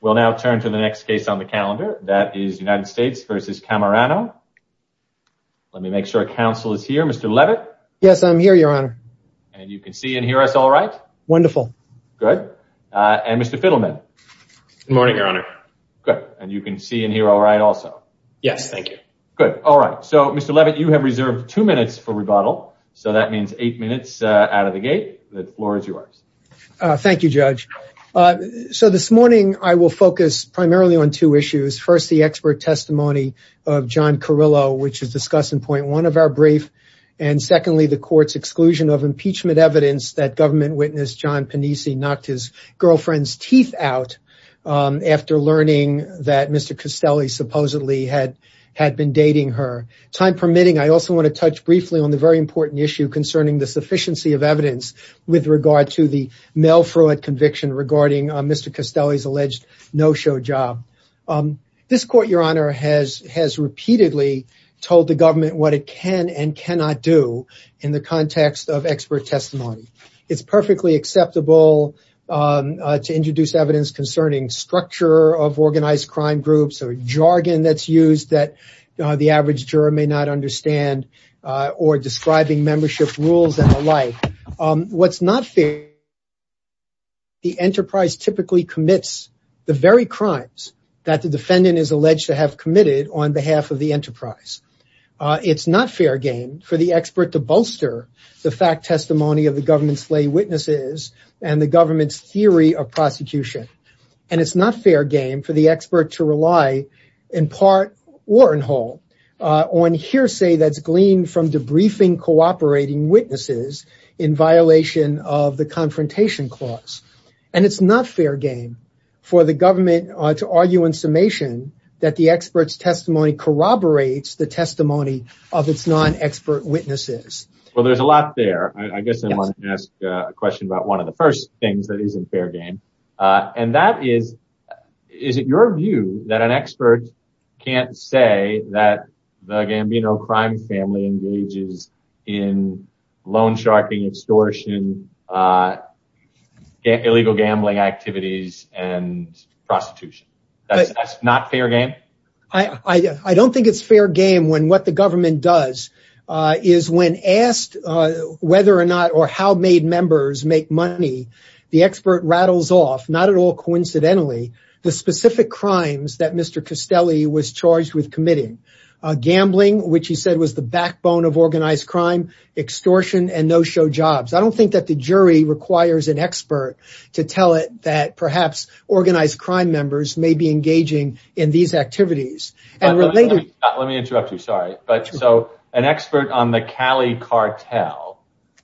We'll now turn to the next case on the calendar. That is United States v. Cammarano. Let me make sure counsel is here. Mr. Levitt? Yes, I'm here, your honor. And you can see and hear us all right? Wonderful. Good. And Mr. Fiddleman? Good morning, your honor. Good. And you can see and hear all right also? Yes, thank you. Good. All right. So, Mr. Levitt, you have reserved two minutes for rebuttal. So that means eight minutes out of the gate. The floor is yours. Thank you, Judge. So this morning, I will focus primarily on two issues. First, the expert testimony of John Carrillo, which is discussed in point one of our brief. And secondly, the court's exclusion of impeachment evidence that government witness John Panisi knocked his girlfriend's teeth out after learning that Mr. Castelli supposedly had had been dating her. Time permitting, I also want to touch briefly on the very important issue concerning the sufficiency of evidence with regard to the male fraud conviction regarding Mr. Castelli's alleged no-show job. This court, your honor, has repeatedly told the government what it can and cannot do in the context of expert testimony. It's perfectly acceptable to introduce evidence concerning structure of organized crime groups or jargon that's used that the average juror may not understand or describing membership rules and the like. What's not fair, the enterprise typically commits the very crimes that the defendant is alleged to have committed on behalf of the enterprise. It's not fair game for the expert to bolster the fact testimony of the government's lay witnesses and the government's theory of on hearsay that's gleaned from debriefing cooperating witnesses in violation of the confrontation clause. And it's not fair game for the government to argue in summation that the expert's testimony corroborates the testimony of its non-expert witnesses. Well, there's a lot there. I guess I want to ask a question about one of the first things that isn't fair game. Is it your view that an expert can't say that the Gambino crime family engages in loan sharking, extortion, illegal gambling activities, and prostitution? That's not fair game? I don't think it's fair game when what the government does is when asked whether or how made members make money, the expert rattles off, not at all coincidentally, the specific crimes that Mr. Castelli was charged with committing. Gambling, which he said was the backbone of organized crime, extortion, and no-show jobs. I don't think that the jury requires an expert to tell it that perhaps organized crime members may be engaging in these activities. Let me interrupt you, sorry. An expert on the Cali cartel,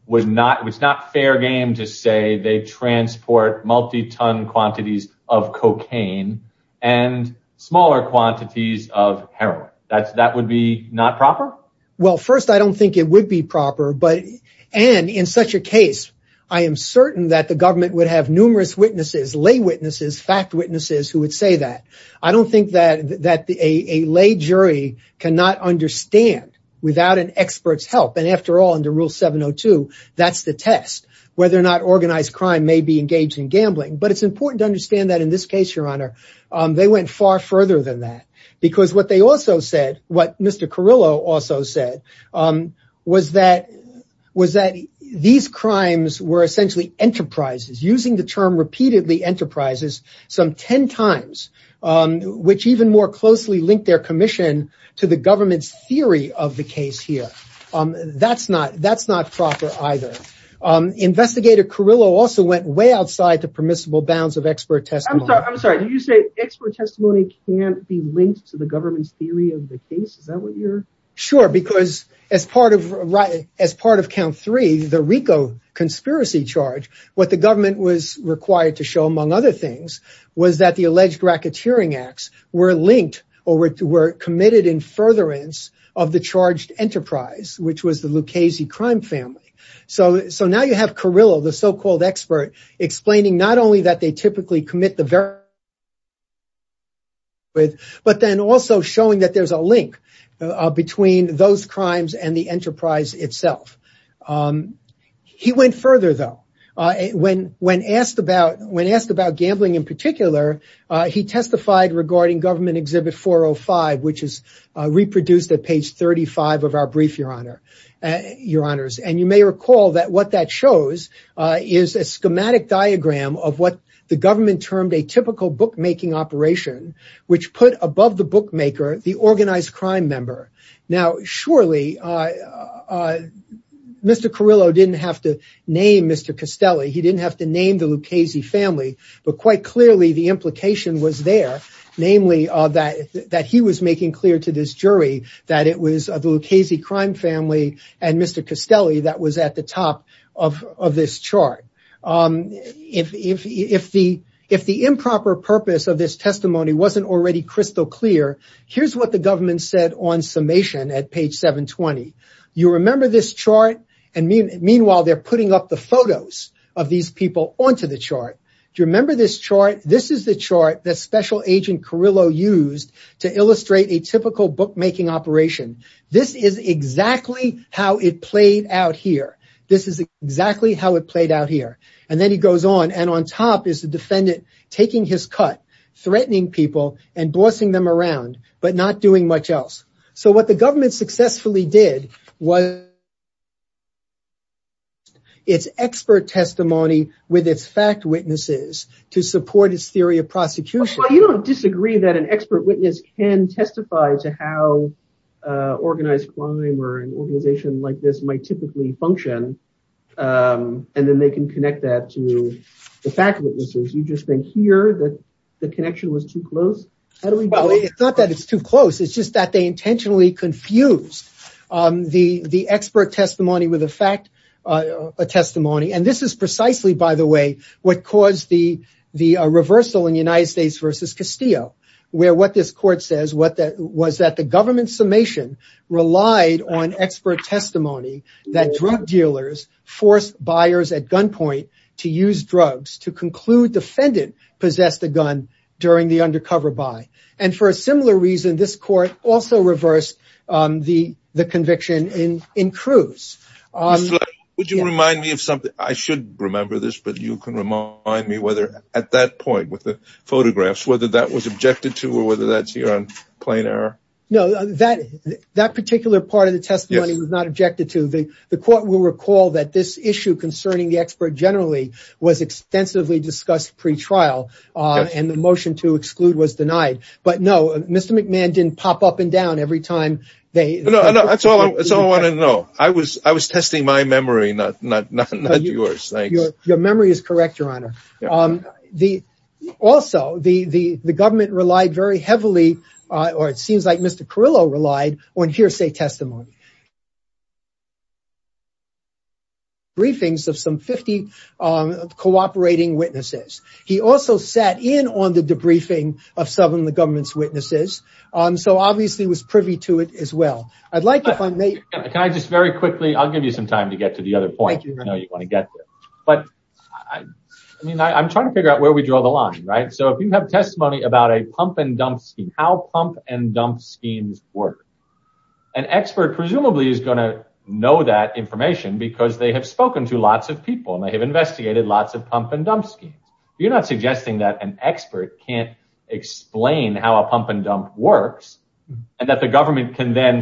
it's not fair game to say they transport multi-ton quantities of cocaine and smaller quantities of heroin. That would be not proper? Well, first, I don't think it would be proper, and in such a case, I am certain that the government would have numerous witnesses, lay witnesses, fact witnesses who would say that. I don't think that a lay jury cannot understand without an expert's help, and after all, under Rule 702, that's the test, whether or not organized crime may be engaged in gambling, but it's important to understand that in this case, Your Honor, they went far further than that because what Mr. Carrillo also said was that these crimes were essentially enterprises, using the term repeatedly enterprises some 10 times, which even more closely linked their commission to the government's theory of the case here. That's not proper either. Investigator Carrillo also went way outside the permissible bounds of expert testimony. I'm sorry, you say expert testimony can't be linked to the government's theory of the case? Sure, because as part of count three, the RICO conspiracy charge, what the government was required to show, among other things, was that the alleged racketeering acts were linked or were committed in furtherance of the charged enterprise, which was the Lucchese crime family. So now you have Carrillo, the so-called expert, explaining not only that they typically commit crimes, but then also showing that there's a link between those crimes and the enterprise itself. He went further, though. When asked about gambling in particular, he testified regarding Government Exhibit 405, which is reproduced at page 35 of our brief, Your Honors, and you may bookmaking operation, which put above the bookmaker, the organized crime member. Now, surely Mr. Carrillo didn't have to name Mr. Castelli. He didn't have to name the Lucchese family, but quite clearly the implication was there, namely that he was making clear to this jury that it was the Lucchese crime family and Mr. Castelli that was at the top of this chart. If the improper purpose of this testimony wasn't already crystal clear, here's what the government said on summation at page 720. You remember this chart, and meanwhile they're putting up the photos of these people onto the chart. Do you remember this chart? This is the chart that Special Agent Carrillo used to illustrate a typical bookmaking operation. This is exactly how it played out here. This is exactly how it played out here, and then he goes on, and on top is the defendant taking his cut, threatening people, and bossing them around, but not doing much else. So what the government successfully did was its expert testimony with its fact witnesses to support its theory of prosecution. Well, you don't disagree that an expert witness can testify to how organized crime or an organization like this might typically function, and then they can connect that to the fact witnesses. You just think here that the connection was too close? It's not that it's too close. It's just that they intentionally confused the expert testimony with a fact testimony, and this is precisely, by the way, what caused the reversal in United States v. Castillo, where what this court says was that the government's summation relied on expert testimony that drug dealers forced buyers at gunpoint to use drugs to conclude the defendant possessed a gun during the undercover buy, and for a similar reason, this court also reversed the conviction in Cruz. Mr. Levin, would you remind me of something? I should remember this, but you can remind me whether at that point with the photographs, whether that was objected to or whether that's here on plain error? No, that particular part of the testimony was not objected to. The court will recall that this issue concerning the expert generally was extensively discussed pre-trial, and the motion to exclude was denied, but no, Mr. McMahon didn't pop up and down every time. No, that's all I wanted to know. I was testing my memory, not yours. Thanks. Your memory is correct, Your Honor. Also, the government relied very heavily, or it seems like Mr. Carrillo relied, on hearsay testimony. Briefings of some 50 cooperating witnesses. He also sat in on the debriefing of some of the witnesses. I'll give you some time to get to the other point. I'm trying to figure out where we draw the line. If you have testimony about a pump and dump scheme, how pump and dump schemes work, an expert presumably is going to know that information because they have spoken to lots of people and they have investigated lots of pump and dump schemes. You're not suggesting that an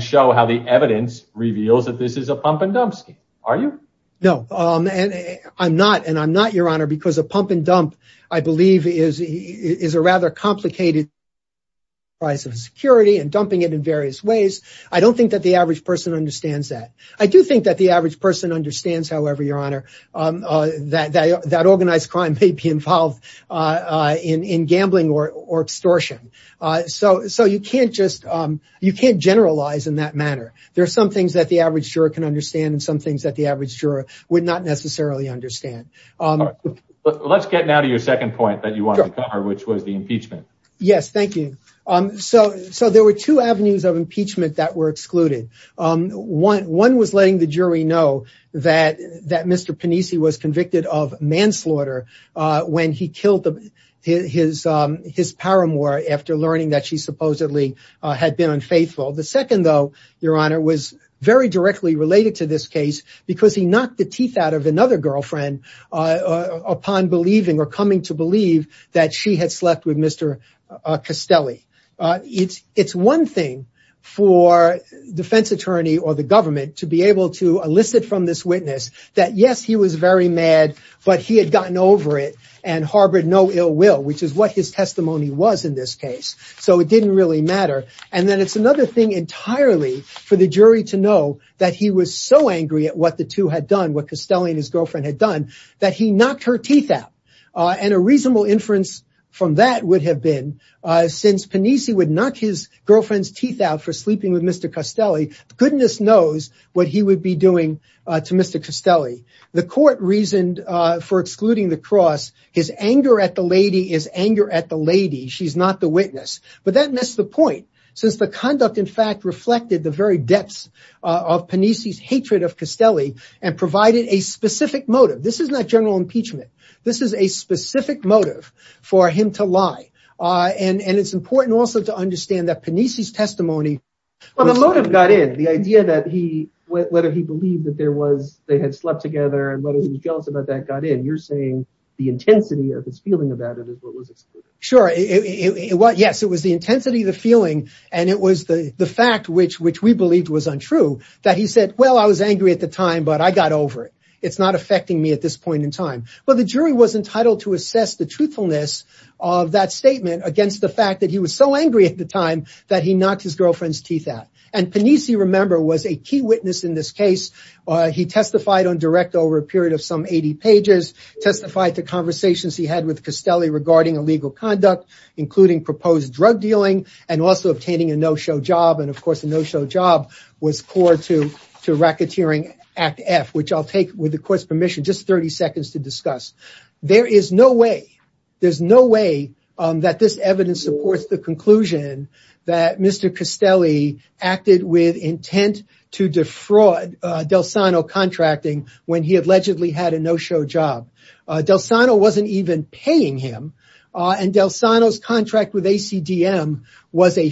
show how the evidence reveals that this is a pump and dump scheme, are you? No, I'm not. I'm not, Your Honor, because a pump and dump, I believe, is a rather complicated price of security and dumping it in various ways. I don't think that the average person understands that. I do think that the average person understands, however, Your Honor, that organized crime may be involved in gambling or extortion. So you can't generalize in that manner. There are some things that the average juror can understand and some things that the average juror would not necessarily understand. Let's get now to your second point that you wanted to cover, which was the impeachment. Yes, thank you. So there were two avenues of of manslaughter when he killed his paramour after learning that she supposedly had been unfaithful. The second, though, Your Honor, was very directly related to this case because he knocked the teeth out of another girlfriend upon believing or coming to believe that she had slept with Mr. Castelli. It's one thing for defense attorney or the government to be able to elicit from this witness that, yes, he was very mad, but he had gotten over it and harbored no ill will, which is what his testimony was in this case. So it didn't really matter. And then it's another thing entirely for the jury to know that he was so angry at what the two had done, what Castelli and his girlfriend had done, that he knocked her teeth out. And a reasonable inference from that would have been since Panisi would knock his girlfriend's teeth out for sleeping with Mr. Castelli, goodness knows what he would be doing to Mr. Castelli. The court reasoned for excluding the cross. His anger at the lady is anger at the lady. She's not the witness. But that missed the point since the conduct, in fact, reflected the very depths of Panisi's hatred of Castelli and provided a specific motive. This is not general impeachment. This is a specific motive for him to lie. And it's important also to understand that Panisi's testimony. Well, the motive got in. The idea that he, whether he believed that there was, they had slept together and whether he was jealous about that, got in. You're saying the intensity of his feeling about it is what was excluded. Sure. Yes, it was the intensity of the feeling. And it was the fact which we believed was untrue, that he said, well, I was angry at the time, but I got over it. It's affecting me at this point in time. Well, the jury was entitled to assess the truthfulness of that statement against the fact that he was so angry at the time that he knocked his girlfriend's teeth out. And Panisi, remember, was a key witness in this case. He testified on direct over a period of some 80 pages, testified to conversations he had with Castelli regarding illegal conduct, including proposed drug dealing and also obtaining a no show job. And of course, just 30 seconds to discuss. There is no way, there's no way that this evidence supports the conclusion that Mr. Castelli acted with intent to defraud Del Sano contracting when he allegedly had a no show job. Del Sano wasn't even paying him. And Del Sano's contract with ACDM was a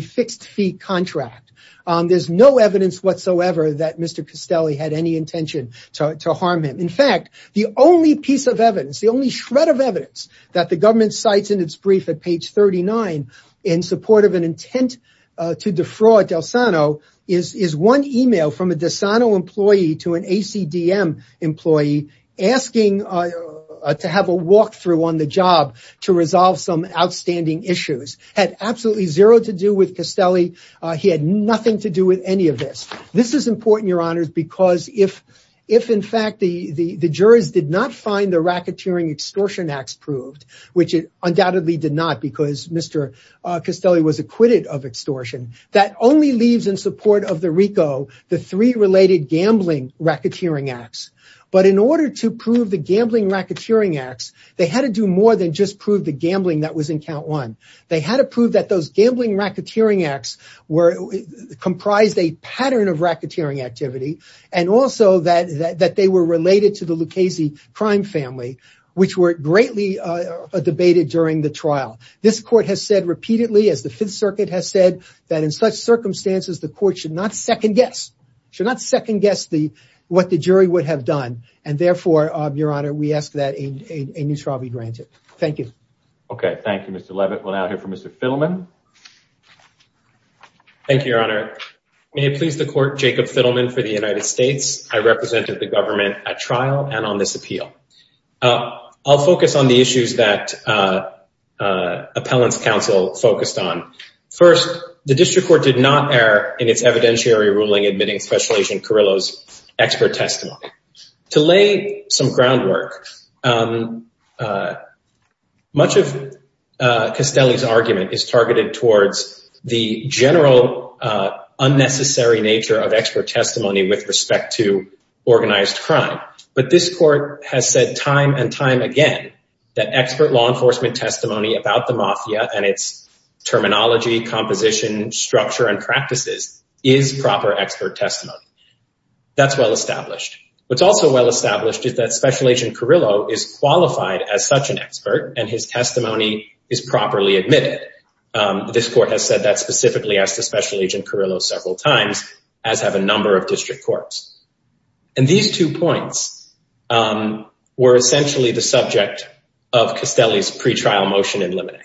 fixed fee contract. There's no evidence whatsoever that Mr. Castelli had any intention to harm him. In fact, the only piece of evidence, the only shred of evidence that the government cites in its brief at page 39 in support of an intent to defraud Del Sano is one email from a Del Sano employee to an ACDM employee asking to have a walkthrough on the job to resolve some outstanding issues. Had absolutely zero to do with Castelli. He had nothing to do with any of this. This is important, your honors, because if in fact the jurors did not find the racketeering extortion acts proved, which undoubtedly did not because Mr. Castelli was acquitted of extortion, that only leaves in support of the RICO, the three related gambling racketeering acts. But in order to prove the gambling racketeering acts, they had to do more than just prove the one. They had to prove that those gambling racketeering acts were comprised a pattern of racketeering activity and also that they were related to the Lucchese crime family, which were greatly debated during the trial. This court has said repeatedly, as the Fifth Circuit has said, that in such circumstances, the court should not second guess, should not second guess what the jury would have done. And therefore, your honor, we ask that a new trial be granted. Thank you. Okay. Thank you, Mr. Levitt. We'll now hear from Mr. Fiddleman. Thank you, your honor. May it please the court, Jacob Fiddleman for the United States. I represented the government at trial and on this appeal. I'll focus on the issues that Appellants Council focused on. First, the district court did not err in its evidentiary ruling admitting Special Agent Carrillo's expert testimony. To lay some groundwork, much of Castelli's argument is targeted towards the general unnecessary nature of expert testimony with respect to organized crime. But this court has said time and time again that expert law enforcement testimony about the mafia and its terminology, composition, structure, and practices is proper expert testimony. That's well established. What's also well established is that Special Agent Carrillo is qualified as such an expert and his testimony is properly admitted. This court has said that specifically as to Special Agent Carrillo several times, as have a number of district courts. And these two points were essentially the subject of Castelli's pretrial motion in limine.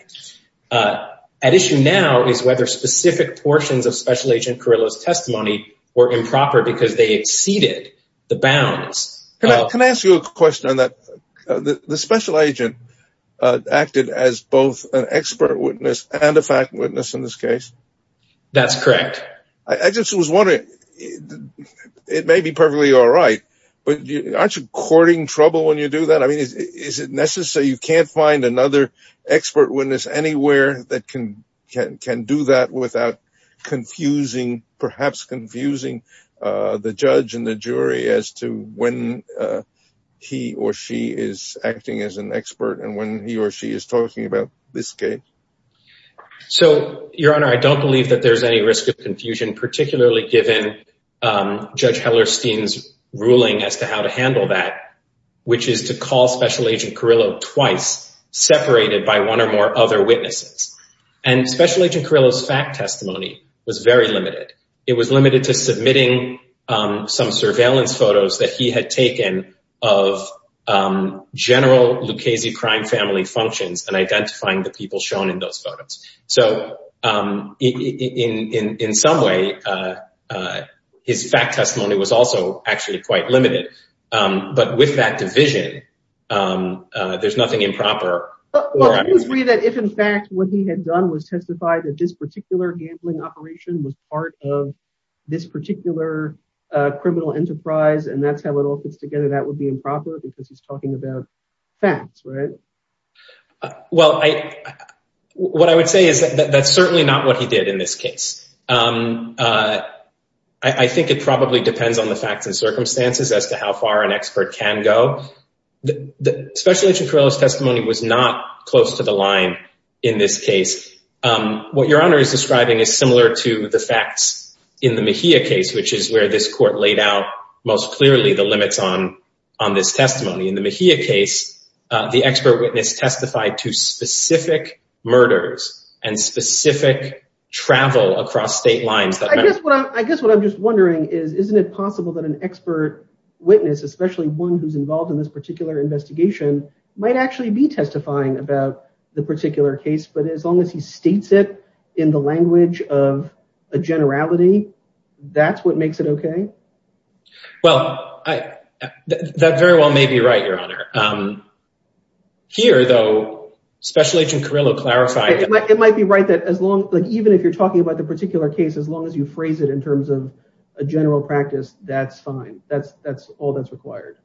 At issue now is whether specific portions of Special Agent Carrillo's testimony were improper because they exceeded the bounds. Can I ask you a question on that? The Special Agent acted as both an expert witness and a fact witness in this case. That's correct. I just was wondering, it may be perfectly all right, but aren't you courting trouble when you do that? I mean, is it necessary? You can't find another confusing, perhaps confusing, the judge and the jury as to when he or she is acting as an expert and when he or she is talking about this case. So, Your Honor, I don't believe that there's any risk of confusion, particularly given Judge Hellerstein's ruling as to how to handle that, which is to call Special Agent Carrillo twice, separated by one or more other witnesses. And Special Agent Carrillo's fact testimony was very limited. It was limited to submitting some surveillance photos that he had taken of general Lucchese crime family functions and identifying the people shown in those photos. So, in some way, his fact testimony was also actually quite limited. But with that division, there's nothing improper. Well, can you agree that if, in fact, what he had done was testify that this particular gambling operation was part of this particular criminal enterprise and that's how it all fits together, that would be improper because he's talking about facts, right? Well, what I would say is that that's certainly not what he did in this case. I think it probably depends on the facts and circumstances as to how far an expert can go. The Special Agent Carrillo's testimony was not close to the line in this case. What Your Honor is describing is similar to the facts in the Mejia case, which is where this court laid out most clearly the limits on this testimony. In the Mejia case, the expert witness testified to specific murders and specific travel across state lines. I guess what I'm just wondering is, isn't it possible that an expert witness, especially one who's involved in this particular investigation, might actually be testifying about the particular case, but as long as he states it in the language of a generality, that's what makes it okay? Well, that very well may be right, Your Honor. Here, though, Special Agent Carrillo clarified— It might be right that even if you're talking about the particular case, as long as you phrase in terms of a general practice, that's fine. That's all that's required.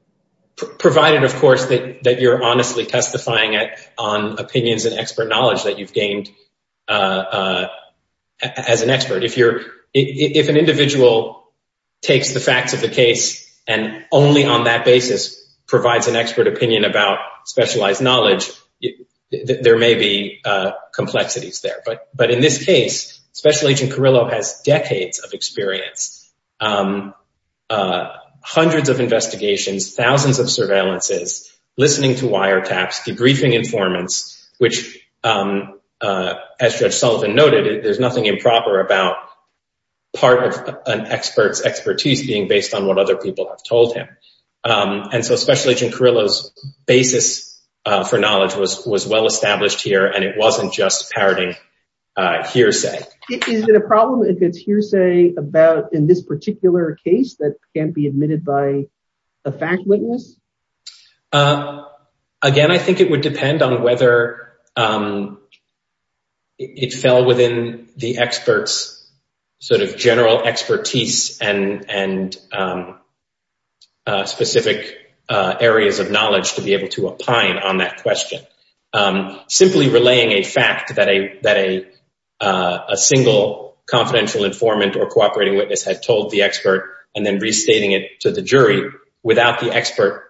Provided, of course, that you're honestly testifying on opinions and expert knowledge that you've gained as an expert. If an individual takes the facts of the case and only on that basis provides an expert opinion about specialized knowledge, there may be complexities there. But in this case, Special Agent Carrillo has decades of experience, hundreds of investigations, thousands of surveillances, listening to wiretaps, debriefing informants, which, as Judge Sullivan noted, there's nothing improper about part of an expert's expertise being based on what other people have told him. And so Special Agent Carrillo's basis for knowledge was well-established here, and it wasn't just parroting hearsay. Is it a problem if it's hearsay about in this particular case that can't be admitted by a fact witness? Again, I think it would depend on whether it fell within the expert's general expertise and specific areas of knowledge to be able to opine on that question. Simply relaying a fact that a single confidential informant or cooperating witness had told the expert and then restating it to the jury without the expert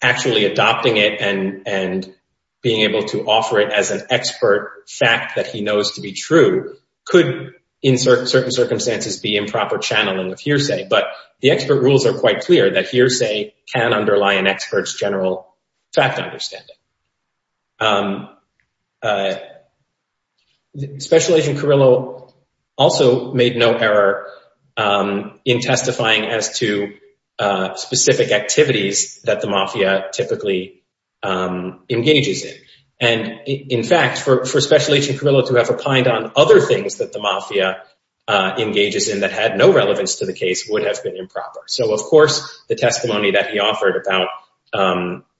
actually adopting it and being able to offer it as an expert fact that he knows to be true could, in certain circumstances, be improper channeling of hearsay. But the expert rules are quite clear that hearsay can underlie an expert's general fact understanding. Special Agent Carrillo also made no error in testifying as to specific activities that the Mafia typically engages in. And in fact, for Special Agent Carrillo to have on other things that the Mafia engages in that had no relevance to the case would have been improper. So of course, the testimony that he offered about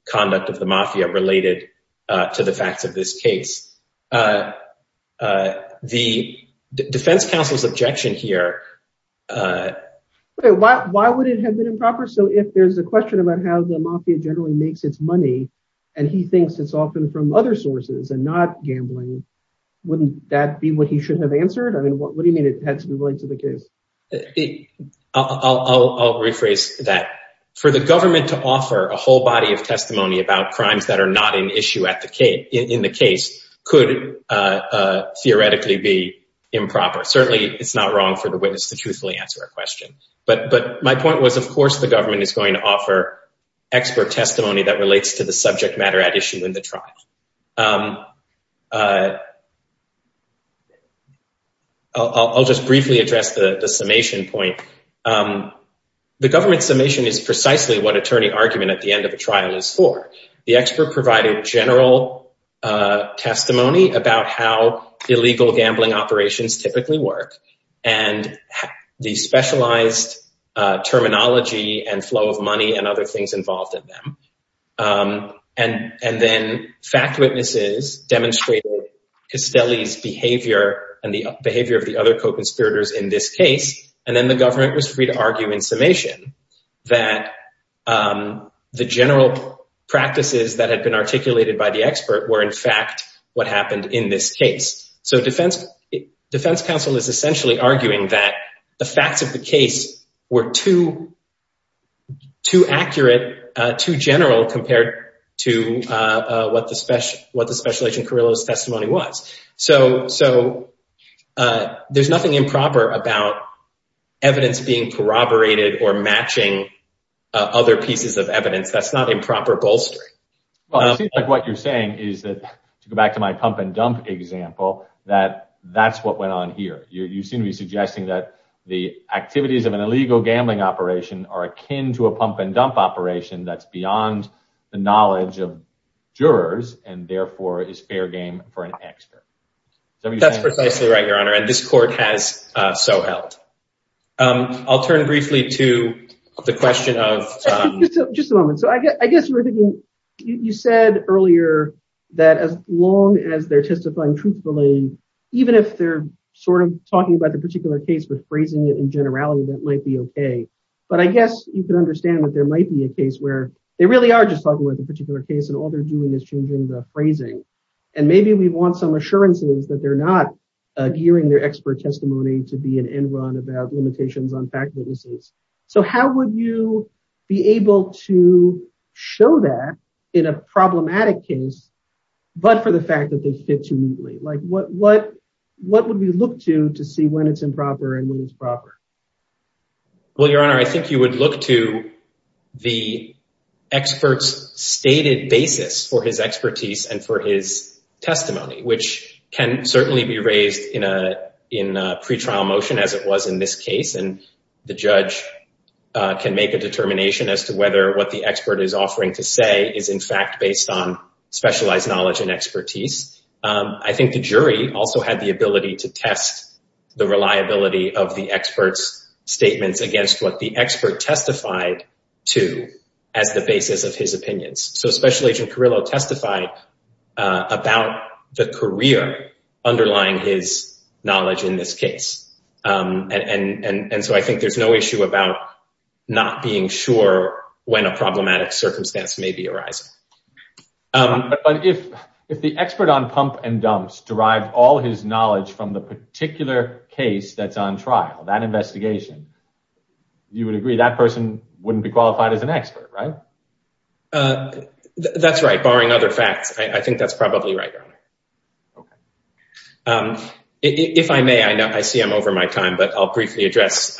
conduct of the Mafia related to the facts of this case. The defense counsel's objection here... Why would it have been improper? So if there's a question about how the Mafia generally makes its money and he thinks it's often from other sources and not gambling, wouldn't that be what he should have answered? I mean, what do you mean it had to be related to the case? I'll rephrase that. For the government to offer a whole body of testimony about crimes that are not in issue in the case could theoretically be improper. Certainly, it's not wrong for the witness to truthfully answer a question. But my point was, of course, the government is going to offer expert testimony that relates to the subject matter at issue in the trial. I'll just briefly address the summation point. The government summation is precisely what attorney argument at the end of a trial is for. The expert provided general testimony about how illegal gambling operations typically work and the specialized terminology and flow of money and other things involved in them. And then fact witnesses demonstrated Castelli's behavior and the behavior of the other co-conspirators in this case. And then the government was free to argue in summation that the general practices that had been articulated by the expert were, in fact, what happened in this case. So defense counsel is essentially arguing that the facts of the case were too accurate, too general compared to what the special agent Carrillo's testimony was. So there's nothing improper about evidence being corroborated or matching other pieces of evidence. That's not improper bolstering. Well, it seems like what you're saying is that to go back to my pump and dump example that that's what went on here. You seem to be of an illegal gambling operation are akin to a pump and dump operation that's beyond the knowledge of jurors and therefore is fair game for an expert. That's precisely right, your honor. And this court has so helped. I'll turn briefly to the question of just a moment. So I guess you said earlier that as long as they're testifying truthfully, even if they're talking about the particular case with phrasing it in generality, that might be okay. But I guess you can understand that there might be a case where they really are just talking about the particular case and all they're doing is changing the phrasing. And maybe we want some assurances that they're not gearing their expert testimony to be an end run about limitations on fact witnesses. So how would you be able to show that in a problematic case, but for the fact that like what, what, what would we look to to see when it's improper and when it's proper? Well, your honor, I think you would look to the experts stated basis for his expertise and for his testimony, which can certainly be raised in a, in a pretrial motion as it was in this case. And the judge can make a determination as to whether what the expert is offering to say is in fact based on specialized knowledge and expertise. I think the jury also had the ability to test the reliability of the experts statements against what the expert testified to as the basis of his opinions. So special agent Carrillo testified about the career underlying his knowledge in this case. And so I think there's no issue about not being sure when a problematic circumstance may be arising. But if, if the expert on pump and dumps derived all his knowledge from the particular case that's on trial, that investigation, you would agree that person wouldn't be qualified as an expert, right? That's right. Barring other facts. I think that's probably right. Okay. If I may, I know I see I'm over my time, but I'll briefly address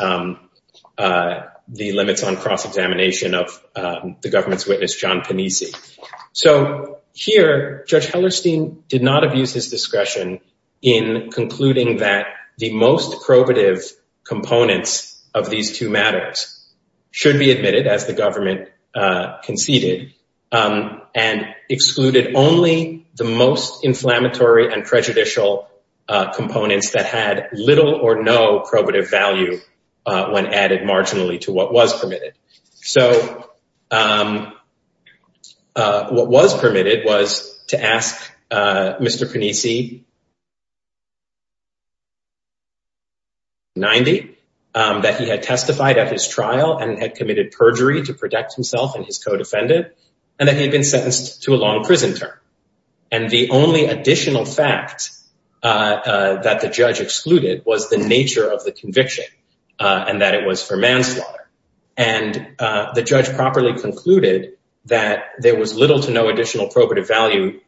the limits on cross-examination of the government's witness, John Panisi. So here, Judge Hellerstein did not abuse his discretion in concluding that the most probative components of these two matters should be admitted as the government conceded and excluded only the most when added marginally to what was permitted. So what was permitted was to ask Mr. Panisi 90, that he had testified at his trial and had committed perjury to protect himself and his co-defendant, and that he had been sentenced to a long prison term. And the only additional fact that the judge excluded was the nature of the conviction and that it was for manslaughter. And the judge properly concluded that there was little to no additional probative value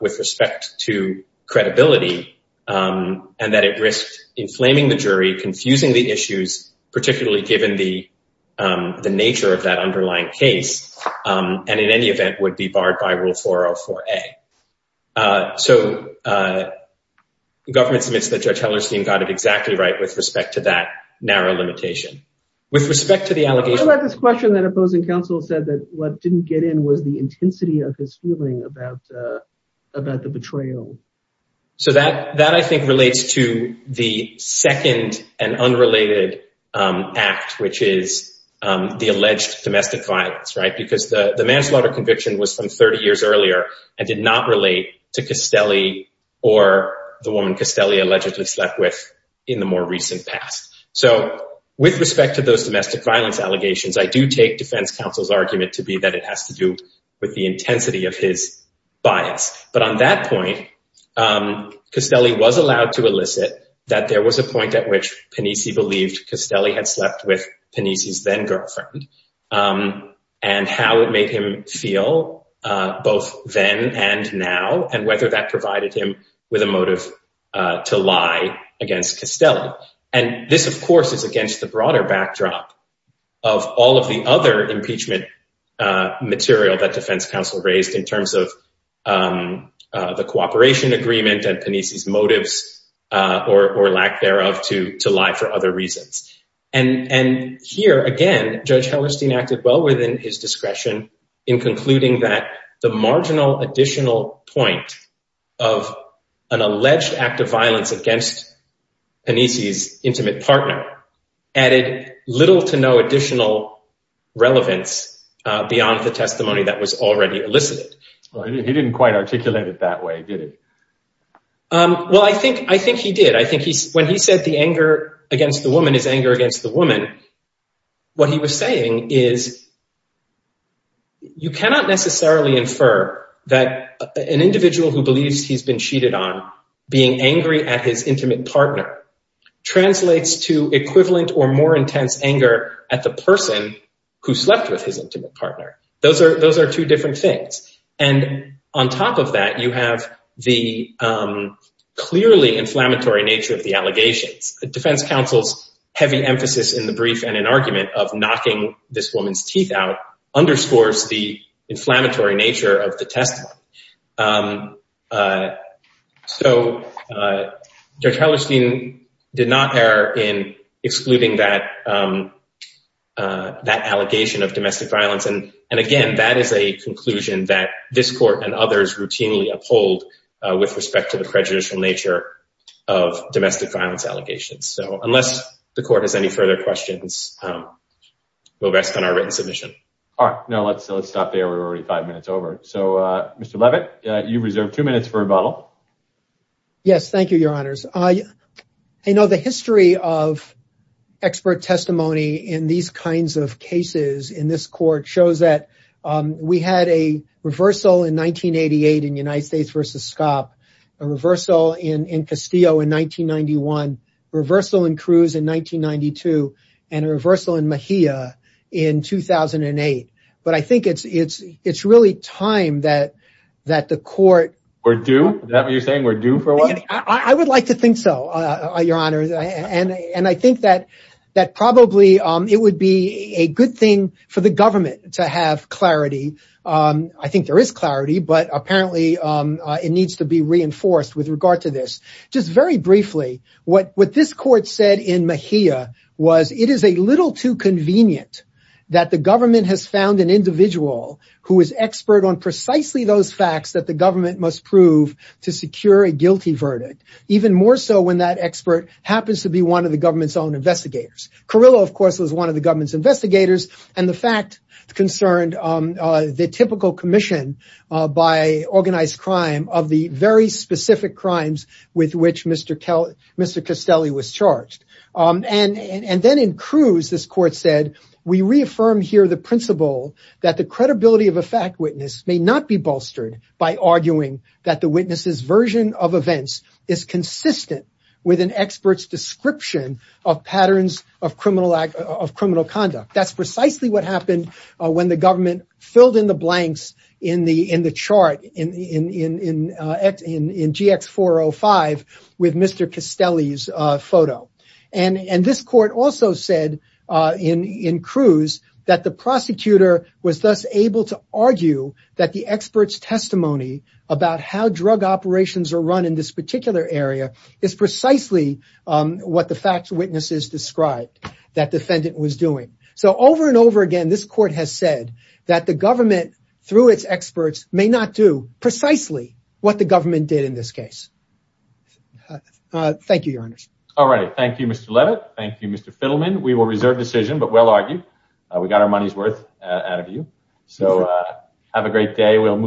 with respect to credibility and that it risked inflaming the jury, confusing the issues, particularly given the, the nature of that underlying case. And in any event would be a, so the government submits that Judge Hellerstein got it exactly right with respect to that narrow limitation. With respect to the allegation, this question that opposing counsel said that what didn't get in was the intensity of his feeling about, about the betrayal. So that, that I think relates to the second and unrelated act, which is the alleged domestic violence, right? Because the manslaughter conviction was from 30 years earlier and did not relate to Castelli or the woman Castelli allegedly slept with in the more recent past. So with respect to those domestic violence allegations, I do take defense counsel's argument to be that it has to do with the intensity of his bias. But on that point, Castelli was allowed to elicit that there was a point at which Panisi believed Castelli had slept with Panisi's then girlfriend and how it made him feel both then and now, and whether that provided him with a motive to lie against Castelli. And this of course is against the broader backdrop of all of the other impeachment material that defense counsel raised in terms of the cooperation agreement and Panisi's motives or lack thereof to lie for other reasons. And, and here again, Judge Hellerstein acted well within his discretion in concluding that the marginal additional point of an alleged act of violence against Panisi's intimate partner added little to no additional relevance beyond the testimony that was already elicited. He didn't quite articulate it that way, did he? Well, I think, I think he did. I think when he said the anger against the woman is anger against the woman, what he was saying is you cannot necessarily infer that an individual who believes he's been cheated on being angry at his intimate partner translates to equivalent or more intense anger at the person who slept with his intimate partner. Those are, those are two different things. And on top of that, you have the clearly inflammatory nature of the allegations. Defense counsel's heavy emphasis in the brief and in argument of knocking this woman's teeth out underscores the inflammatory nature of the testimony. So Judge Hellerstein did not err in excluding that, that allegation of domestic violence. And, and again, that is a conclusion that this court and others routinely uphold with respect to the prejudicial nature of domestic violence allegations. So unless the court has any further questions, we'll rest on our written submission. All right, now let's, let's stop there. We're already five minutes over. So Mr. Levitt, you've reserved two minutes for rebuttal. Yes, thank you, your honors. I, I know the history of expert testimony in these kinds of cases in this court shows that we had a reversal in 1988 in United States versus SCOP, a reversal in Castillo in 1991, reversal in Cruz in 1992, and a reversal in Mejia in 2008. But I think it's, it's, it's really time that, that the court... We're due? Is that what you're saying? We're due for what? I would like to think so, your honors. And, and I think that, that probably it would be a good thing for the government to have clarity. I think there is clarity, but apparently it needs to be reinforced with regard to this. Just very briefly, what, what this court said in Mejia was it is a little too convenient that the government has found an individual who is expert on precisely those facts that the government must prove to secure a guilty verdict, even more so when that expert happens to be one of the government's own investigators. Carrillo, of course, was one of the government's investigators. And the fact concerned the typical commission by organized crime of the very specific crimes with which Mr. Castelli was charged. And then in Cruz, this court said, we reaffirmed here the principle that the credibility of a fact witness may not be bolstered by arguing that the witness's version of events is consistent with an expert's description of patterns of criminal act, of criminal conduct. That's precisely what happened when the government filled in the blanks in the, in the chart, in, in, in, in, in GX405 with Mr. Castelli's photo. And, and this court also said in, in Cruz that the prosecutor was thus able to argue that the expert's testimony about how drug operations are run in this particular area is precisely what the fact witnesses described that defendant was doing. So over and over again, this court has said that the government through its experts may not do precisely what the government did in this particular area. Thank you, Mr. Levitt. Thank you, Mr. Fiddleman. We will reserve decision, but we'll argue we got our money's worth out of you. So have a great day. We'll